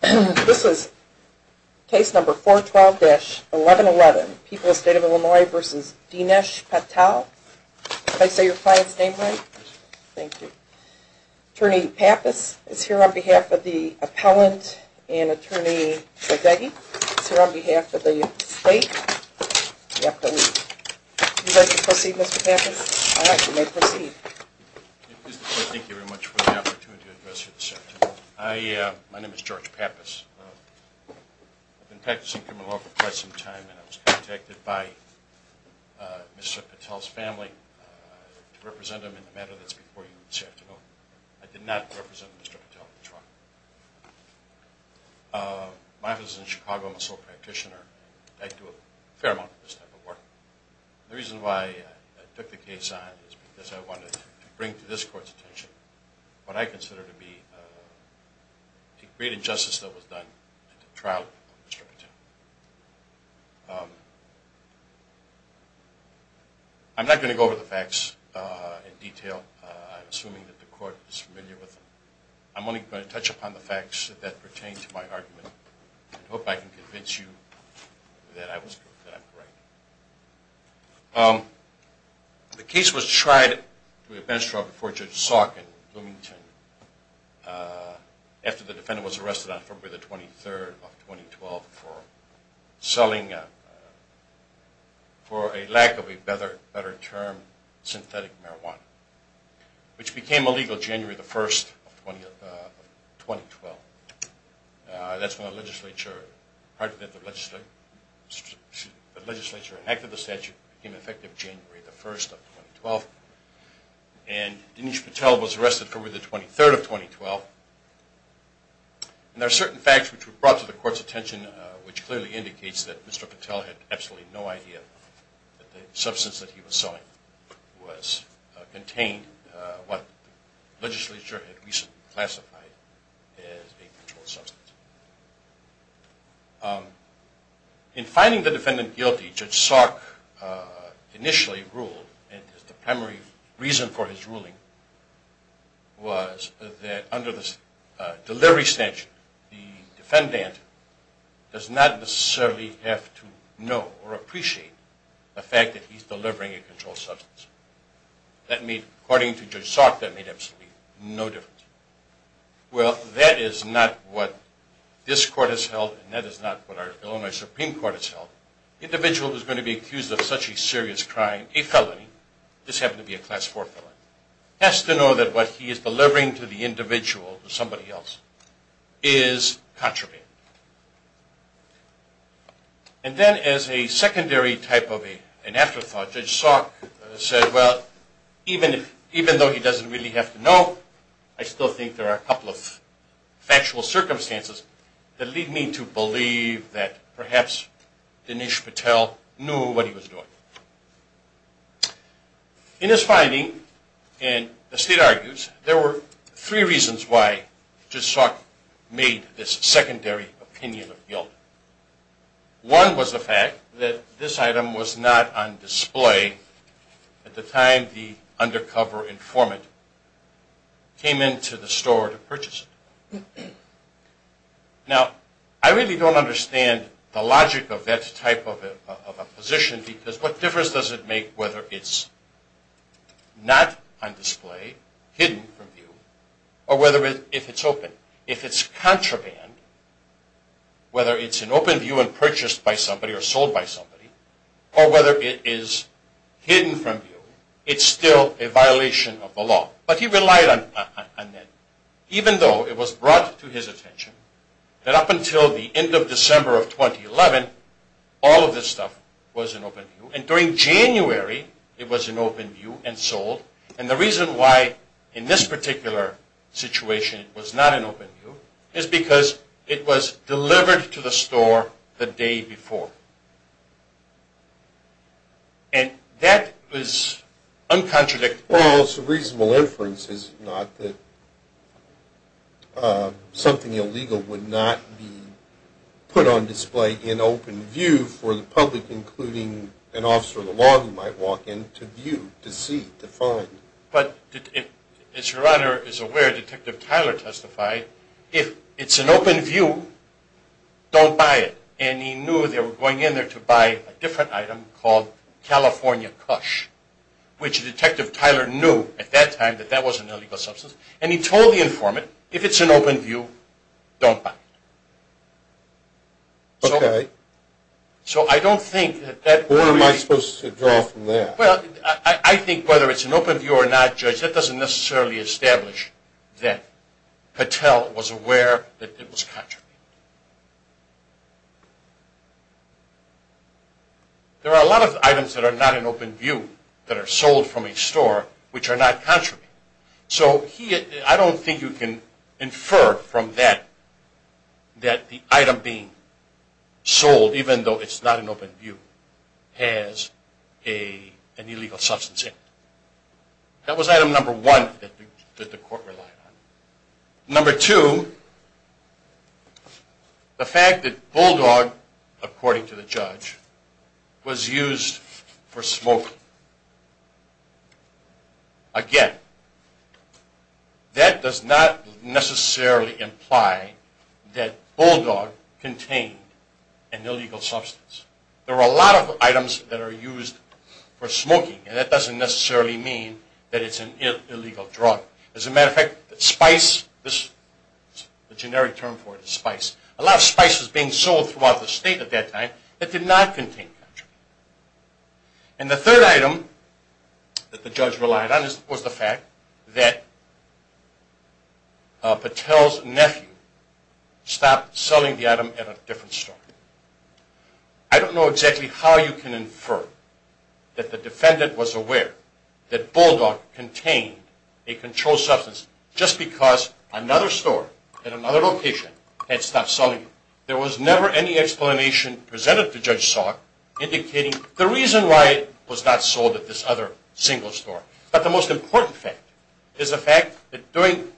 This is case number 412-1111, People's State of Illinois v. Dinesh Patel. May I say your client's name right? Yes. Thank you. Attorney Pappas is here on behalf of the appellant and Attorney Saldeghi is here on behalf of the state. Would you like to proceed, Mr. Pappas? Yes. All right, you may proceed. Thank you very much for the opportunity to address you this afternoon. My name is George Pappas. I've been practicing criminal law for quite some time and I was contacted by Mr. Patel's family to represent him in a matter that's before you this afternoon. I did not represent Mr. Patel this morning. My office is in Chicago. I'm a sole practitioner. I do a fair amount of this type of work. The reason why I took the case on is because I wanted to bring to this court's attention what I consider to be a great injustice that was done at the trial of Mr. Patel. I'm not going to go over the facts in detail. I'm assuming that the court is familiar with them. I'm only going to touch upon the facts that pertain to my argument and hope I can convince you that I'm right. The case was tried to a bench trial before Judge Salk in Bloomington after the defendant was arrested on February 23, 2012 for selling, for a lack of a better term, synthetic marijuana, which became illegal January 1, 2012. That's when the legislature enacted the statute. It became effective January 1, 2012. And Dinesh Patel was arrested for the 23rd of 2012. And there are certain facts which were brought to the court's attention which clearly indicates that Mr. Patel had absolutely no idea that the substance that he was selling contained what the legislature had recently classified as a controlled substance. In finding the defendant guilty, Judge Salk initially ruled, and the primary reason for his ruling was that under the delivery statute, the defendant does not necessarily have to know or appreciate the fact that he's delivering a controlled substance. According to Judge Salk, that made absolutely no difference. Well, that is not what this court has held, and that is not what our Illinois Supreme Court has held. The individual who is going to be accused of such a serious crime, a felony, this happened to be a class 4 felony, has to know that what he is delivering to the individual, to somebody else, is contraband. And then as a secondary type of an afterthought, Judge Salk said, well, even though he doesn't really have to know, I still think there are a couple of factual circumstances that lead me to believe that perhaps Dinesh Patel knew what he was doing. In his finding, and the state argues, there were three reasons why Judge Salk made this secondary opinion of guilt. One was the fact that this item was not on display at the time the undercover informant came into the store to purchase it. Now, I really don't understand the logic of that type of a position, because what difference does it make whether it's not on display, hidden from view, or if it's open? If it's contraband, whether it's in open view and purchased by somebody or sold by somebody, or whether it is hidden from view, it's still a violation of the law. But he relied on that, even though it was brought to his attention that up until the end of December of 2011, all of this stuff was in open view. And during January, it was in open view and sold. And the reason why in this particular situation it was not in open view is because it was delivered to the store the day before. And that was uncontradictory. Well, it's a reasonable inference, is it not, that something illegal would not be put on display in open view for the public, including an officer of the law who might walk in to view, to see, to find. But as Your Honor is aware, Detective Tyler testified, if it's in open view, don't buy it. And he knew they were going in there to buy a different item called California Cush, which Detective Tyler knew at that time that that wasn't an illegal substance. And he told the informant, if it's in open view, don't buy it. Okay. So I don't think that that… Where am I supposed to draw from there? Well, I think whether it's in open view or not, Judge, that doesn't necessarily establish that Patel was aware that it was contraband. There are a lot of items that are not in open view that are sold from a store which are not contraband. So I don't think you can infer from that that the item being sold, even though it's not in open view, has an illegal substance in it. That was item number one that the court relied on. Number two, the fact that Bulldog, according to the judge, was used for smoking. Again, that does not necessarily imply that Bulldog contained an illegal substance. There are a lot of items that are used for smoking, and that doesn't necessarily mean that it's an illegal drug. As a matter of fact, spice, the generic term for it is spice, a lot of spice was being sold throughout the state at that time that did not contain contraband. And the third item that the judge relied on was the fact that Patel's nephew stopped selling the item at a different store. I don't know exactly how you can infer that the defendant was aware that Bulldog contained a controlled substance just because another store at another location had stopped selling it. There was never any explanation presented to Judge Salk indicating the reason why it was not sold at this other single store. But the most important fact is the fact that during,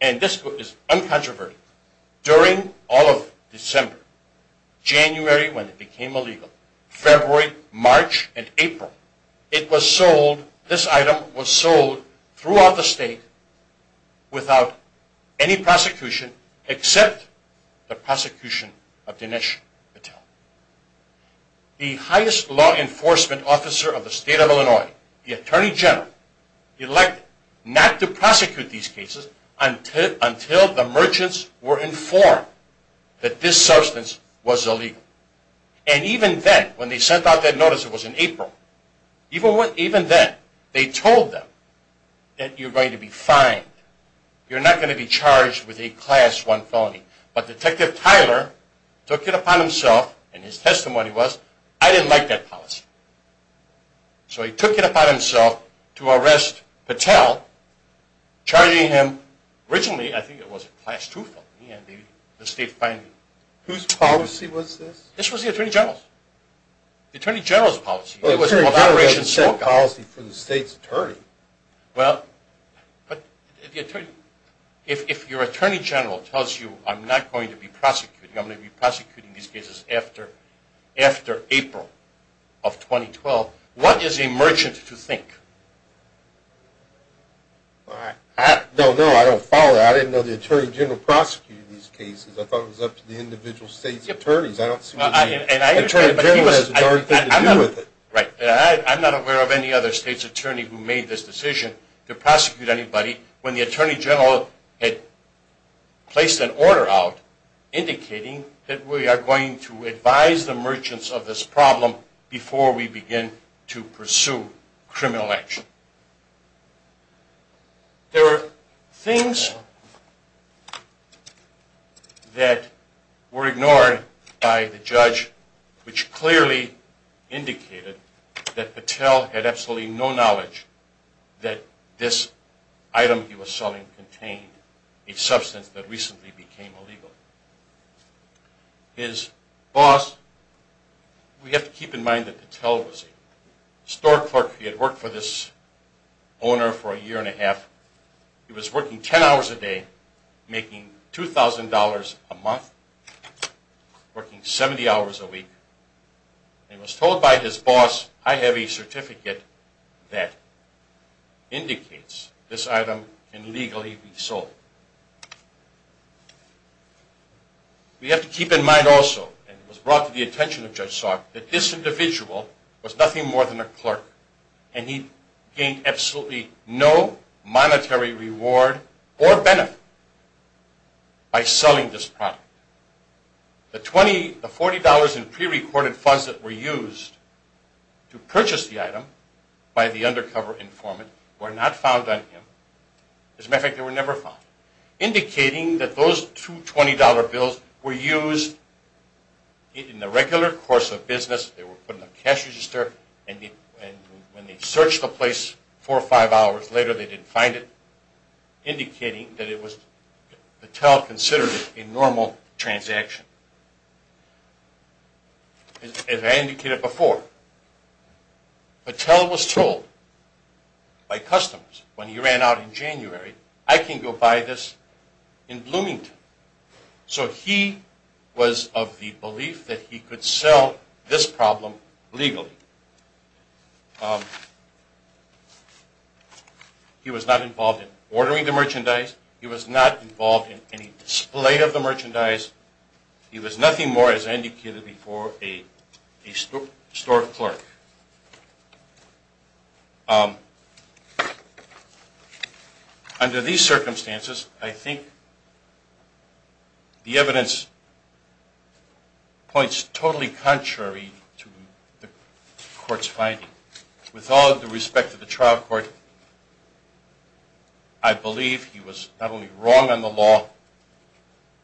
and this is uncontroverted, during all of December, January when it became illegal, February, March, and April, it was sold, this item was sold throughout the state without any prosecution except the prosecution of Dinesh Patel. The highest law enforcement officer of the state of Illinois, the Attorney General, elected not to prosecute these cases until the merchants were informed that this substance was illegal. And even then, when they sent out that notice, it was in April, even then they told them that you're going to be fined, you're not going to be charged with a Class 1 felony. But Detective Tyler took it upon himself, and his testimony was, I didn't like that policy. So he took it upon himself to arrest Patel, charging him, originally I think it was a Class 2 felony, and the state fined him. Whose policy was this? This was the Attorney General's. The Attorney General's policy. The Attorney General doesn't set policy for the state's attorney. Well, but if your Attorney General tells you I'm not going to be prosecuting, I'm going to be prosecuting these cases after April of 2012, what is a merchant to think? No, no, I don't follow that. I didn't know the Attorney General prosecuted these cases. I thought it was up to the individual state's attorneys. I don't see what the Attorney General has to do with it. Right. I'm not aware of any other state's attorney who made this decision to prosecute anybody when the Attorney General had placed an order out, indicating that we are going to advise the merchants of this problem before we begin to pursue criminal action. There are things that were ignored by the judge which clearly indicated that Patel had absolutely no knowledge that this item he was selling contained a substance that recently became illegal. His boss, we have to keep in mind that Patel was a store clerk. He had worked for this owner for a year and a half. He was working 10 hours a day, making $2,000 a month, working 70 hours a week. He was told by his boss, I have a certificate that indicates this item can legally be sold. We have to keep in mind also, and it was brought to the attention of Judge Salk, that this individual was nothing more than a clerk, and he gained absolutely no monetary reward or benefit by selling this product. The $40 in pre-recorded funds that were used to purchase the item by the undercover informant were not found on him. As a matter of fact, they were never found, indicating that those two $20 bills were used in the regular course of business. They were put in the cash register, and when they searched the place four or five hours later, they didn't find it, indicating that Patel considered it a normal transaction. As I indicated before, Patel was told by customers when he ran out in January, I can go buy this in Bloomington. So he was of the belief that he could sell this problem legally. He was not involved in ordering the merchandise. He was not involved in any display of the merchandise. He was nothing more, as I indicated before, a store clerk. Under these circumstances, I think the evidence points totally contrary to the court's finding. With all due respect to the trial court, I believe he was not only wrong on the law,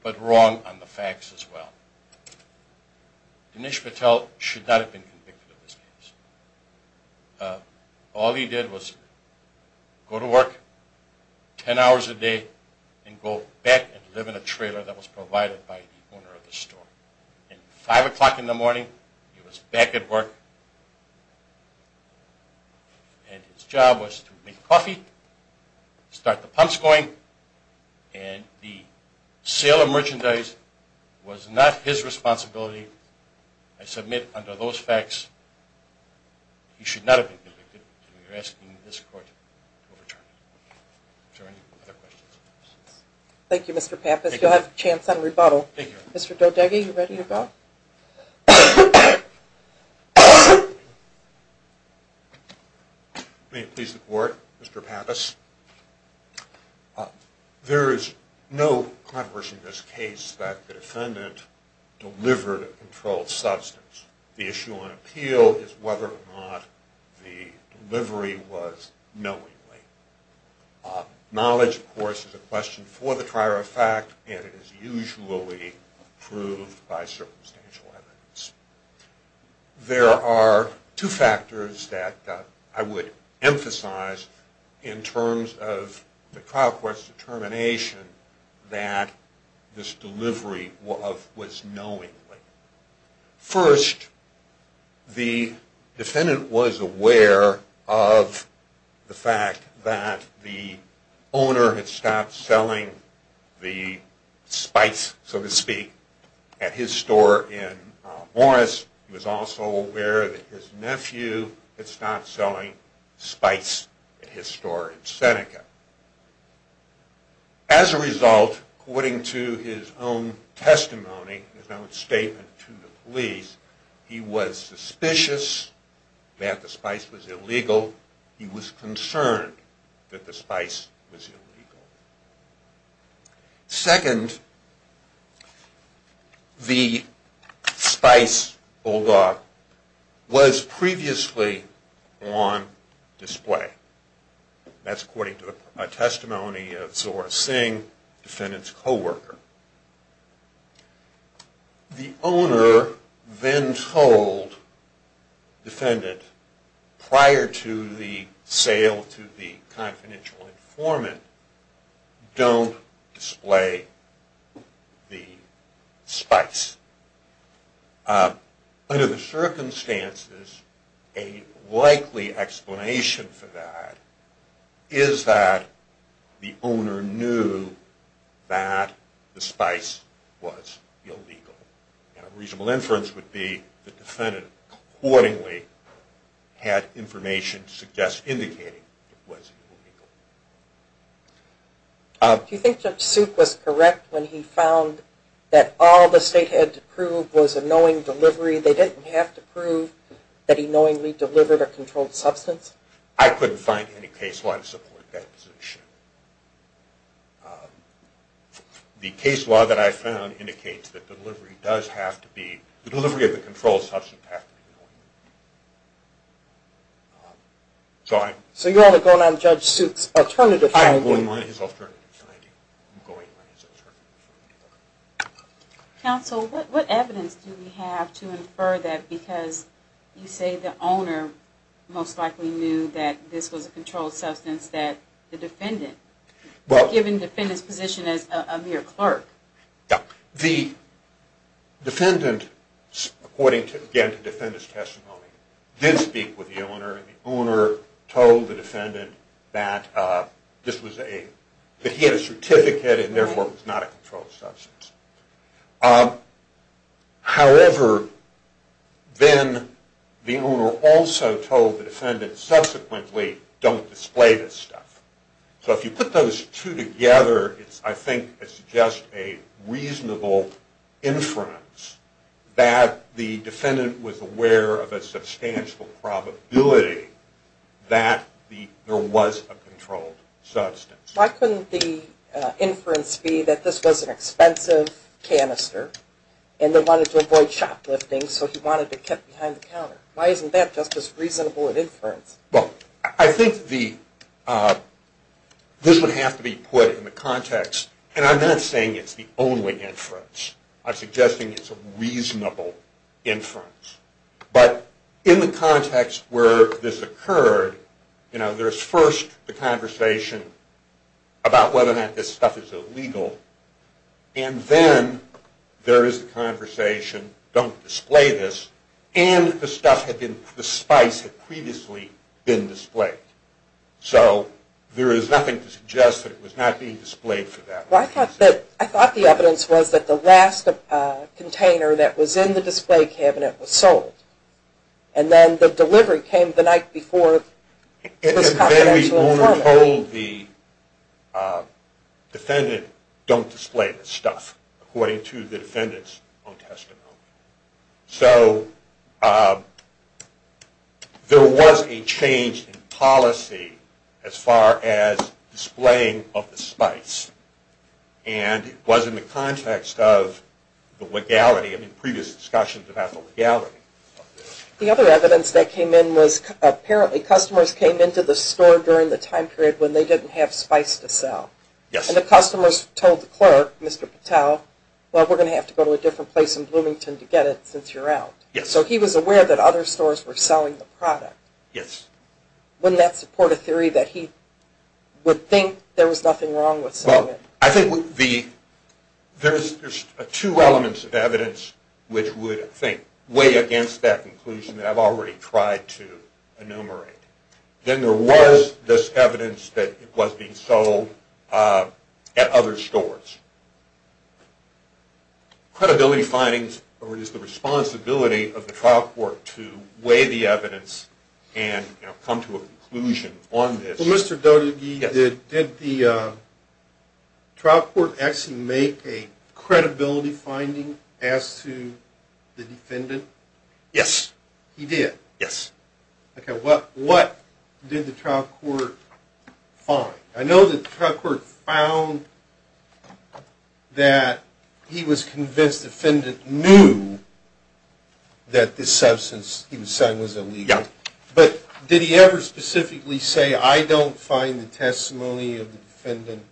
but wrong on the facts as well. Dinesh Patel should not have been convicted of this case. All he did was go to work 10 hours a day and go back and live in a trailer that was provided by the owner of the store. At 5 o'clock in the morning, he was back at work, and his job was to make coffee, start the pumps going, and the sale of merchandise was not his responsibility. I submit under those facts, he should not have been convicted, and we are asking this court to overturn it. Are there any other questions? Thank you, Mr. Pappas. You'll have a chance at a rebuttal. Thank you. Mr. Dodeghi, you ready to go? May it please the court, Mr. Pappas. There is no controversy in this case that the defendant delivered a controlled substance. The issue on appeal is whether or not the delivery was knowingly. Knowledge, of course, is a question for the trier of fact, and it is usually proved by circumstantial evidence. There are two factors that I would emphasize in terms of the trial court's determination that this delivery was knowingly. First, the defendant was aware of the fact that the owner had stopped selling the spice, so to speak, at his store in Morris. He was also aware that his nephew had stopped selling spice at his store in Seneca. As a result, according to his own testimony, his own statement to the police, he was suspicious that the spice was illegal. He was concerned that the spice was illegal. Second, the spice bulldog was previously on display. That's according to a testimony of Zora Singh, the defendant's co-worker. The owner then told the defendant, prior to the sale to the confidential informant, don't display the spice. Under the circumstances, a likely explanation for that is that the owner knew that the spice was illegal. A reasonable inference would be the defendant accordingly had information to suggest indicating it was illegal. Do you think Judge Suit was correct when he found that all the state had to prove was a knowing delivery? They didn't have to prove that he knowingly delivered a controlled substance? I couldn't find any case law to support that position. The case law that I found indicates that the delivery of the controlled substance has to be knowingly. So you're only going on Judge Suit's alternative finding? I'm going on his alternative finding. Counsel, what evidence do we have to infer that because you say the owner most likely knew that this was a controlled substance, that the defendant, given the defendant's position as a mere clerk? The defendant, according to the defendant's testimony, did speak with the owner. The owner told the defendant that he had a certificate and therefore it was not a controlled substance. However, then the owner also told the defendant subsequently, don't display this stuff. So if you put those two together, I think it's just a reasonable inference that the defendant was aware of a substantial probability that there was a controlled substance. Why couldn't the inference be that this was an expensive canister and they wanted to avoid shoplifting so he wanted it kept behind the counter? Why isn't that just as reasonable an inference? Well, I think this would have to be put in the context, and I'm not saying it's the only inference. I'm suggesting it's a reasonable inference. But in the context where this occurred, you know, there's first the conversation about whether or not this stuff is illegal, and then there is the conversation, don't display this, and the spice had previously been displayed. So there is nothing to suggest that it was not being displayed for that reason. Well, I thought the evidence was that the last container that was in the display cabinet was sold, and then the delivery came the night before it was confiscated. But then we only told the defendant, don't display this stuff, according to the defendant's own testimony. So there was a change in policy as far as displaying of the spice, and it was in the context of the legality. I mean, previous discussions about the legality of this. The other evidence that came in was apparently customers came into the store during the time period when they didn't have spice to sell. Yes. And the customers told the clerk, Mr. Patel, well, we're going to have to go to a different place in Bloomington to get it since you're out. Yes. So he was aware that other stores were selling the product. Yes. Wouldn't that support a theory that he would think there was nothing wrong with selling it? I think there's two elements of evidence which would, I think, weigh against that conclusion that I've already tried to enumerate. Then there was this evidence that it was being sold at other stores. Credibility findings is the responsibility of the trial court to weigh the evidence and come to a conclusion on this. Well, Mr. Dotygie, did the trial court actually make a credibility finding as to the defendant? Yes. He did? Yes. Okay. What did the trial court find? I know that the trial court found that he was convinced the defendant knew that this substance he was selling was illegal. Yes. But did he ever specifically say, I don't find the testimony of the defendant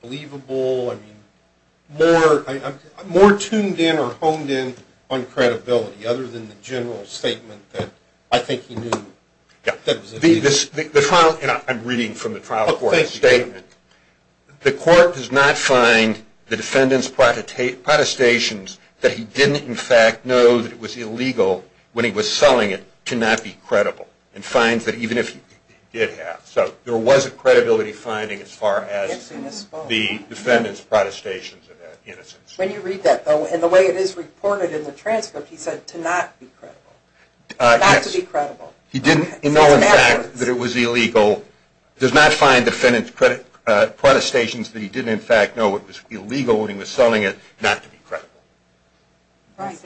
believable? I mean, more tuned in or honed in on credibility other than the general statement that I think he knew that it was illegal. I'm reading from the trial court's statement. The court does not find the defendant's protestations that he didn't, in fact, know that it was illegal when he was selling it to not be credible. And finds that even if he did have. So there was a credibility finding as far as the defendant's protestations of innocence. When you read that, though, and the way it is reported in the transcript, he said to not be credible. Not to be credible. He didn't know, in fact, that it was illegal. Does not find the defendant's protestations that he didn't, in fact, know it was illegal when he was selling it not to be credible. Right.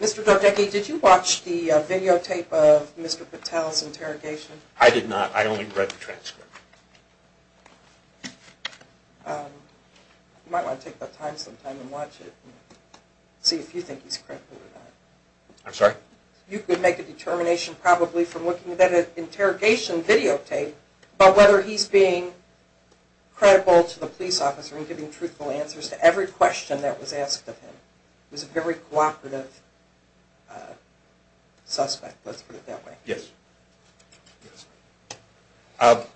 Mr. Dordeche, did you watch the videotape of Mr. Patel's interrogation? I did not. I only read the transcript. You might want to take that time sometime and watch it and see if you think he's credible or not. I'm sorry? You could make a determination probably from looking at that interrogation videotape about whether he's being credible to the police officer and giving truthful answers to every question that was asked of him. He was a very cooperative suspect. Let's put it that way. Yes. Of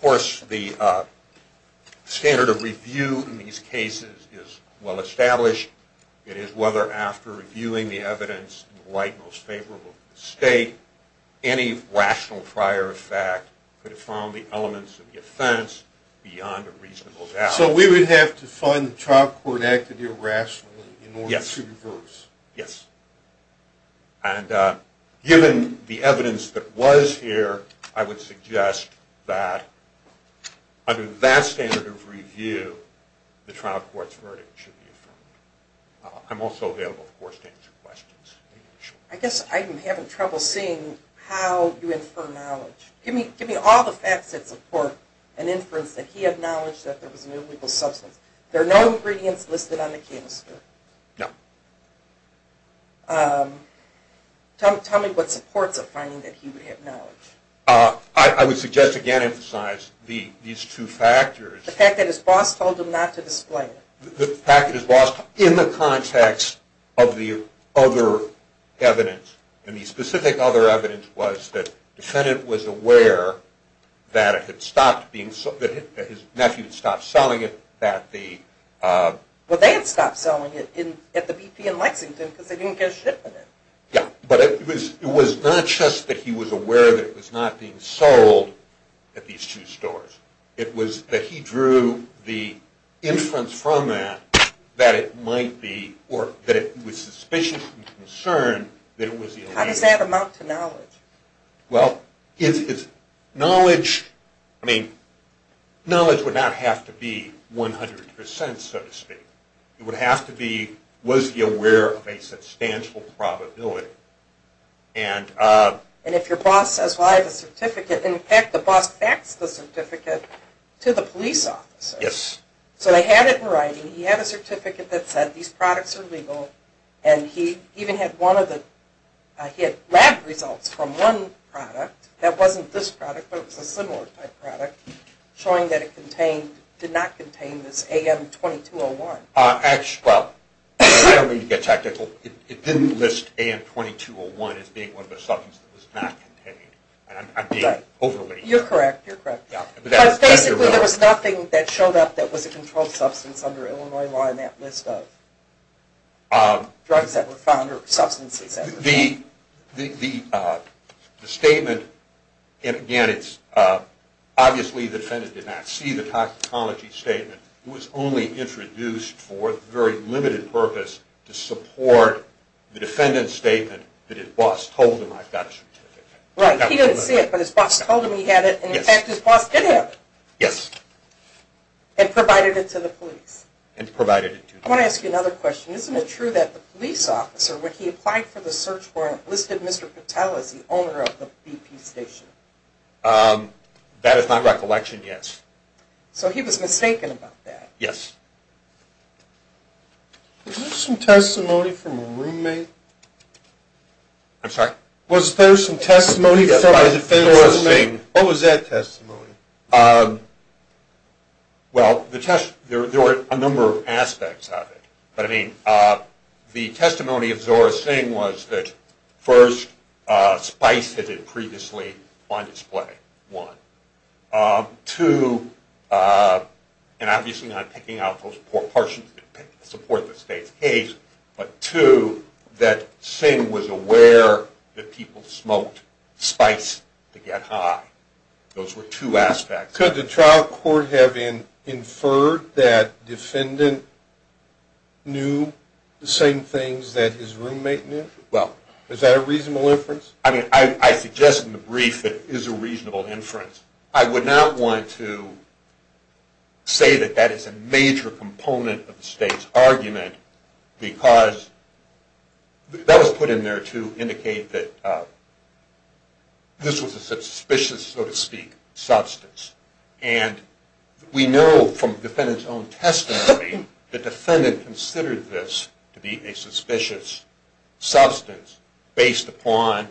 course, the standard of review in these cases is well established. It is whether, after reviewing the evidence in the light most favorable to the state, any rational prior effect could have found the elements of the offense beyond a reasonable doubt. So we would have to find the trial court act to do it rationally in order to reverse. Yes. And given the evidence that was here, I would suggest that under that standard of review, the trial court's verdict should be affirmed. I'm also available, of course, to answer questions. I guess I'm having trouble seeing how you infer knowledge. Give me all the facts that support an inference that he acknowledged that there was an illegal substance. There are no ingredients listed on the canister. No. Tell me what supports a finding that he would have known. I would suggest, again, emphasize these two factors. The fact that his boss told him not to display it. The fact that his boss, in the context of the other evidence, and the specific other evidence was that the defendant was aware that it had stopped being sold, that his nephew had stopped selling it. Well, they had stopped selling it at the BP in Lexington because they didn't get a shipment in. Yes, but it was not just that he was aware that it was not being sold at these two stores. It was that he drew the inference from that that it might be, or that it was suspicious and concerned that it was illegal. How does that amount to knowledge? Well, knowledge would not have to be 100%, so to speak. It would have to be, was he aware of a substantial probability. And if your boss says, well, I have a certificate, in fact, the boss faxed the certificate to the police officer. Yes. So they had it in writing. He had a certificate that said these products are legal. And he even had lab results from one product, that wasn't this product, but it was a similar type product, showing that it did not contain this AM2201. Well, I don't mean to get tactical. It didn't list AM2201 as being one of the substances that was not contained. I'm being overly… You're correct, you're correct. Basically, there was nothing that showed up that was a controlled substance under Illinois law in that list of drugs that were found or substances that were found. The statement, again, it's obviously the defendant did not see the toxicology statement. It was only introduced for the very limited purpose to support the defendant's statement that his boss told him, I've got a certificate. Right, he didn't see it, but his boss told him he had it. Yes. In fact, his boss did have it. Yes. And provided it to the police. And provided it to the police. I want to ask you another question. Isn't it true that the police officer, when he applied for the search warrant, listed Mr. Patel as the owner of the BP station? That is not recollection, yes. So he was mistaken about that. Yes. Was there some testimony from a roommate? I'm sorry? Was there some testimony from a defense roommate? What was that testimony? Well, there were a number of aspects of it. But, I mean, the testimony of Zora Singh was that, first, spice had been previously on display, one. Two, and obviously not picking out those portions to support the state's case, but two, that Singh was aware that people smoked spice to get high. Those were two aspects. Could the trial court have inferred that defendant knew the same things that his roommate knew? Well, is that a reasonable inference? I mean, I suggest in the brief that it is a reasonable inference. I would not want to say that that is a major component of the state's argument because that was put in there to indicate that this was a suspicious, so to speak, substance. And we know from the defendant's own testimony the defendant considered this to be a suspicious substance based upon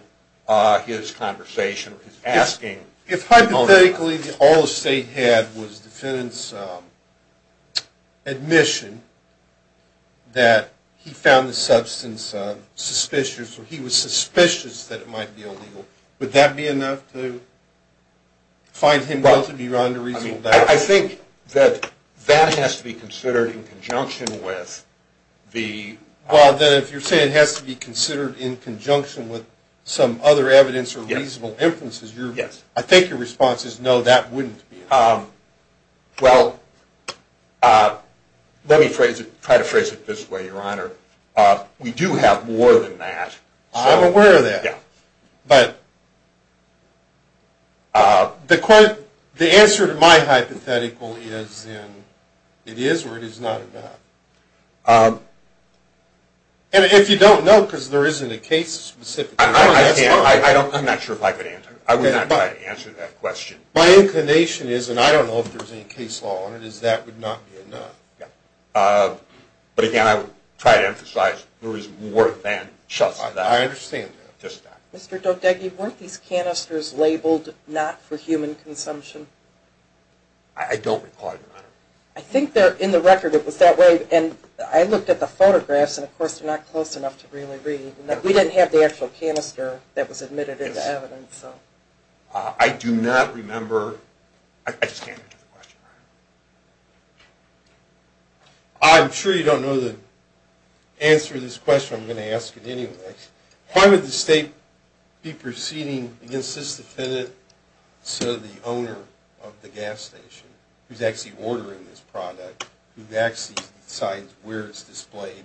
his conversation or his asking. If hypothetically all the state had was the defendant's admission that he found the substance suspicious or he was suspicious that it might be illegal, would that be enough to find him guilty beyond a reasonable doubt? I think that that has to be considered in conjunction with the... Well, then if you're saying it has to be considered in conjunction with some other evidence or reasonable inferences, I think your response is no, that wouldn't be enough. Well, let me try to phrase it this way, Your Honor. We do have more than that. I'm aware of that. Yeah. But the answer to my hypothetical is then it is or it is not enough. And if you don't know because there isn't a case specific... I'm not sure if I could answer. I would not try to answer that question. My inclination is, and I don't know if there's any case law on it, is that would not be enough. But again, I would try to emphasize there is more than just that. I understand that. Just that. Mr. Dodeghi, weren't these canisters labeled not for human consumption? I don't recall, Your Honor. I think in the record it was that way, and I looked at the photographs, and of course they're not close enough to really read. We didn't have the actual canister that was admitted into evidence. I do not remember. I just can't answer the question, Your Honor. I'm sure you don't know the answer to this question. I'm going to ask it anyway. Why would the state be proceeding against this defendant instead of the owner of the gas station, who's actually ordering this product, who actually decides where it's displayed,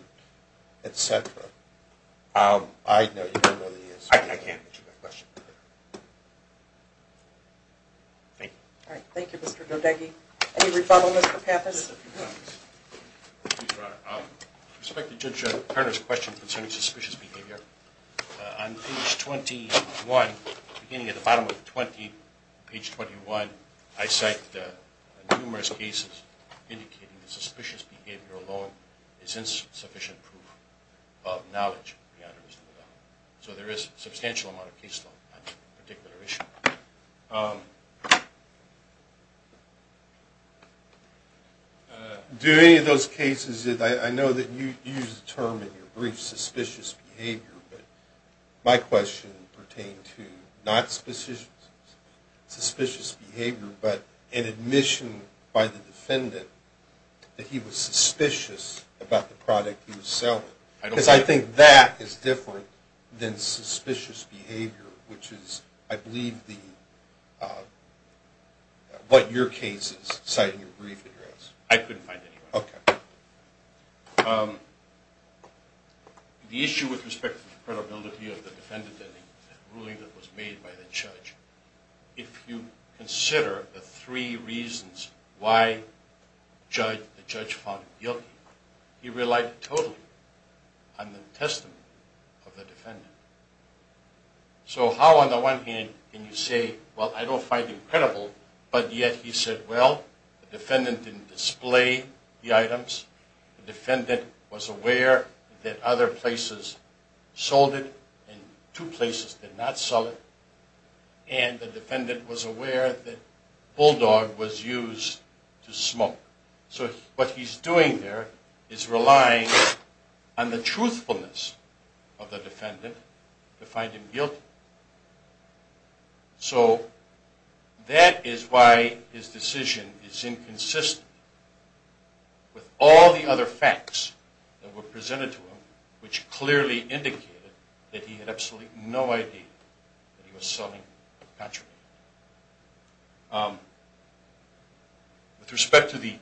et cetera? I know you don't know the answer. I can't answer that question. Thank you. All right. Any rebuttal, Mr. Pappas? Thank you, Your Honor. With respect to Judge Turner's question concerning suspicious behavior, on page 21, beginning at the bottom of 20, page 21, I cite numerous cases indicating that suspicious behavior alone is insufficient proof of knowledge, Your Honor. So there is a substantial amount of case law on that particular issue. Do any of those cases, I know that you used the term in your brief, suspicious behavior, but my question pertained to not suspicious behavior, but an admission by the defendant that he was suspicious about the product he was selling. Because I think that is different than suspicious behavior, which is, I believe, what your case is citing your brief address. I couldn't find it, Your Honor. Okay. The issue with respect to the credibility of the defendant and the ruling that was made by the judge, if you consider the three reasons why the judge found him guilty, he relied totally on the testament of the defendant. So how, on the one hand, can you say, well, I don't find it credible, but yet he said, well, the defendant didn't display the items, the defendant was aware that other places sold it and two places did not sell it, and the defendant was aware that Bulldog was used to smoke. So what he's doing there is relying on the truthfulness of the defendant to find him guilty. So that is why his decision is inconsistent with all the other facts that were presented to him, which clearly indicated that he had absolutely no idea that he was selling the country. With respect to the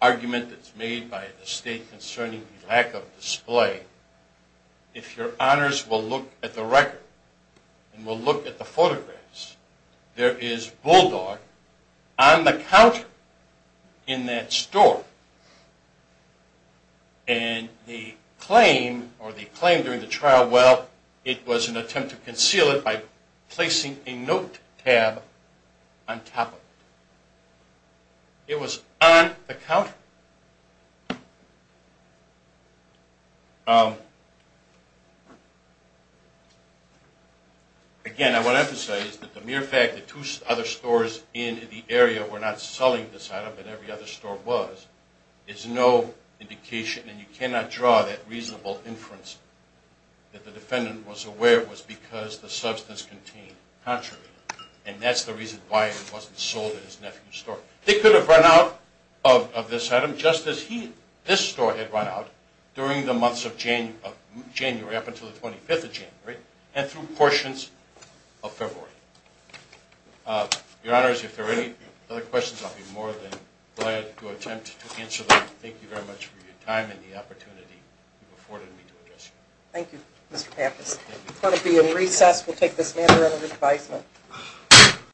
argument that's made by the State concerning the lack of display, if your honors will look at the record and will look at the photographs, there is Bulldog on the counter in that store, and the claim or the claim during the trial, well, it was an attempt to conceal it by placing a note tab on top of it. It was on the counter. Again, I want to emphasize that the mere fact that two other stores in the area were not selling this item, and every other store was, is no indication, and you cannot draw that reasonable inference that the defendant was aware it was because the substance contained contrary, and that's the reason why it wasn't sold at his nephew's store. They could have run out of this item just as this store had run out during the months of January up until the 25th of January and through portions of February. Your honors, if there are any other questions, I'll be more than glad to attempt to answer them. Thank you very much for your time and the opportunity you've afforded me to address you. Thank you, Mr. Pappas. We're going to be in recess. We'll take this matter under advisement.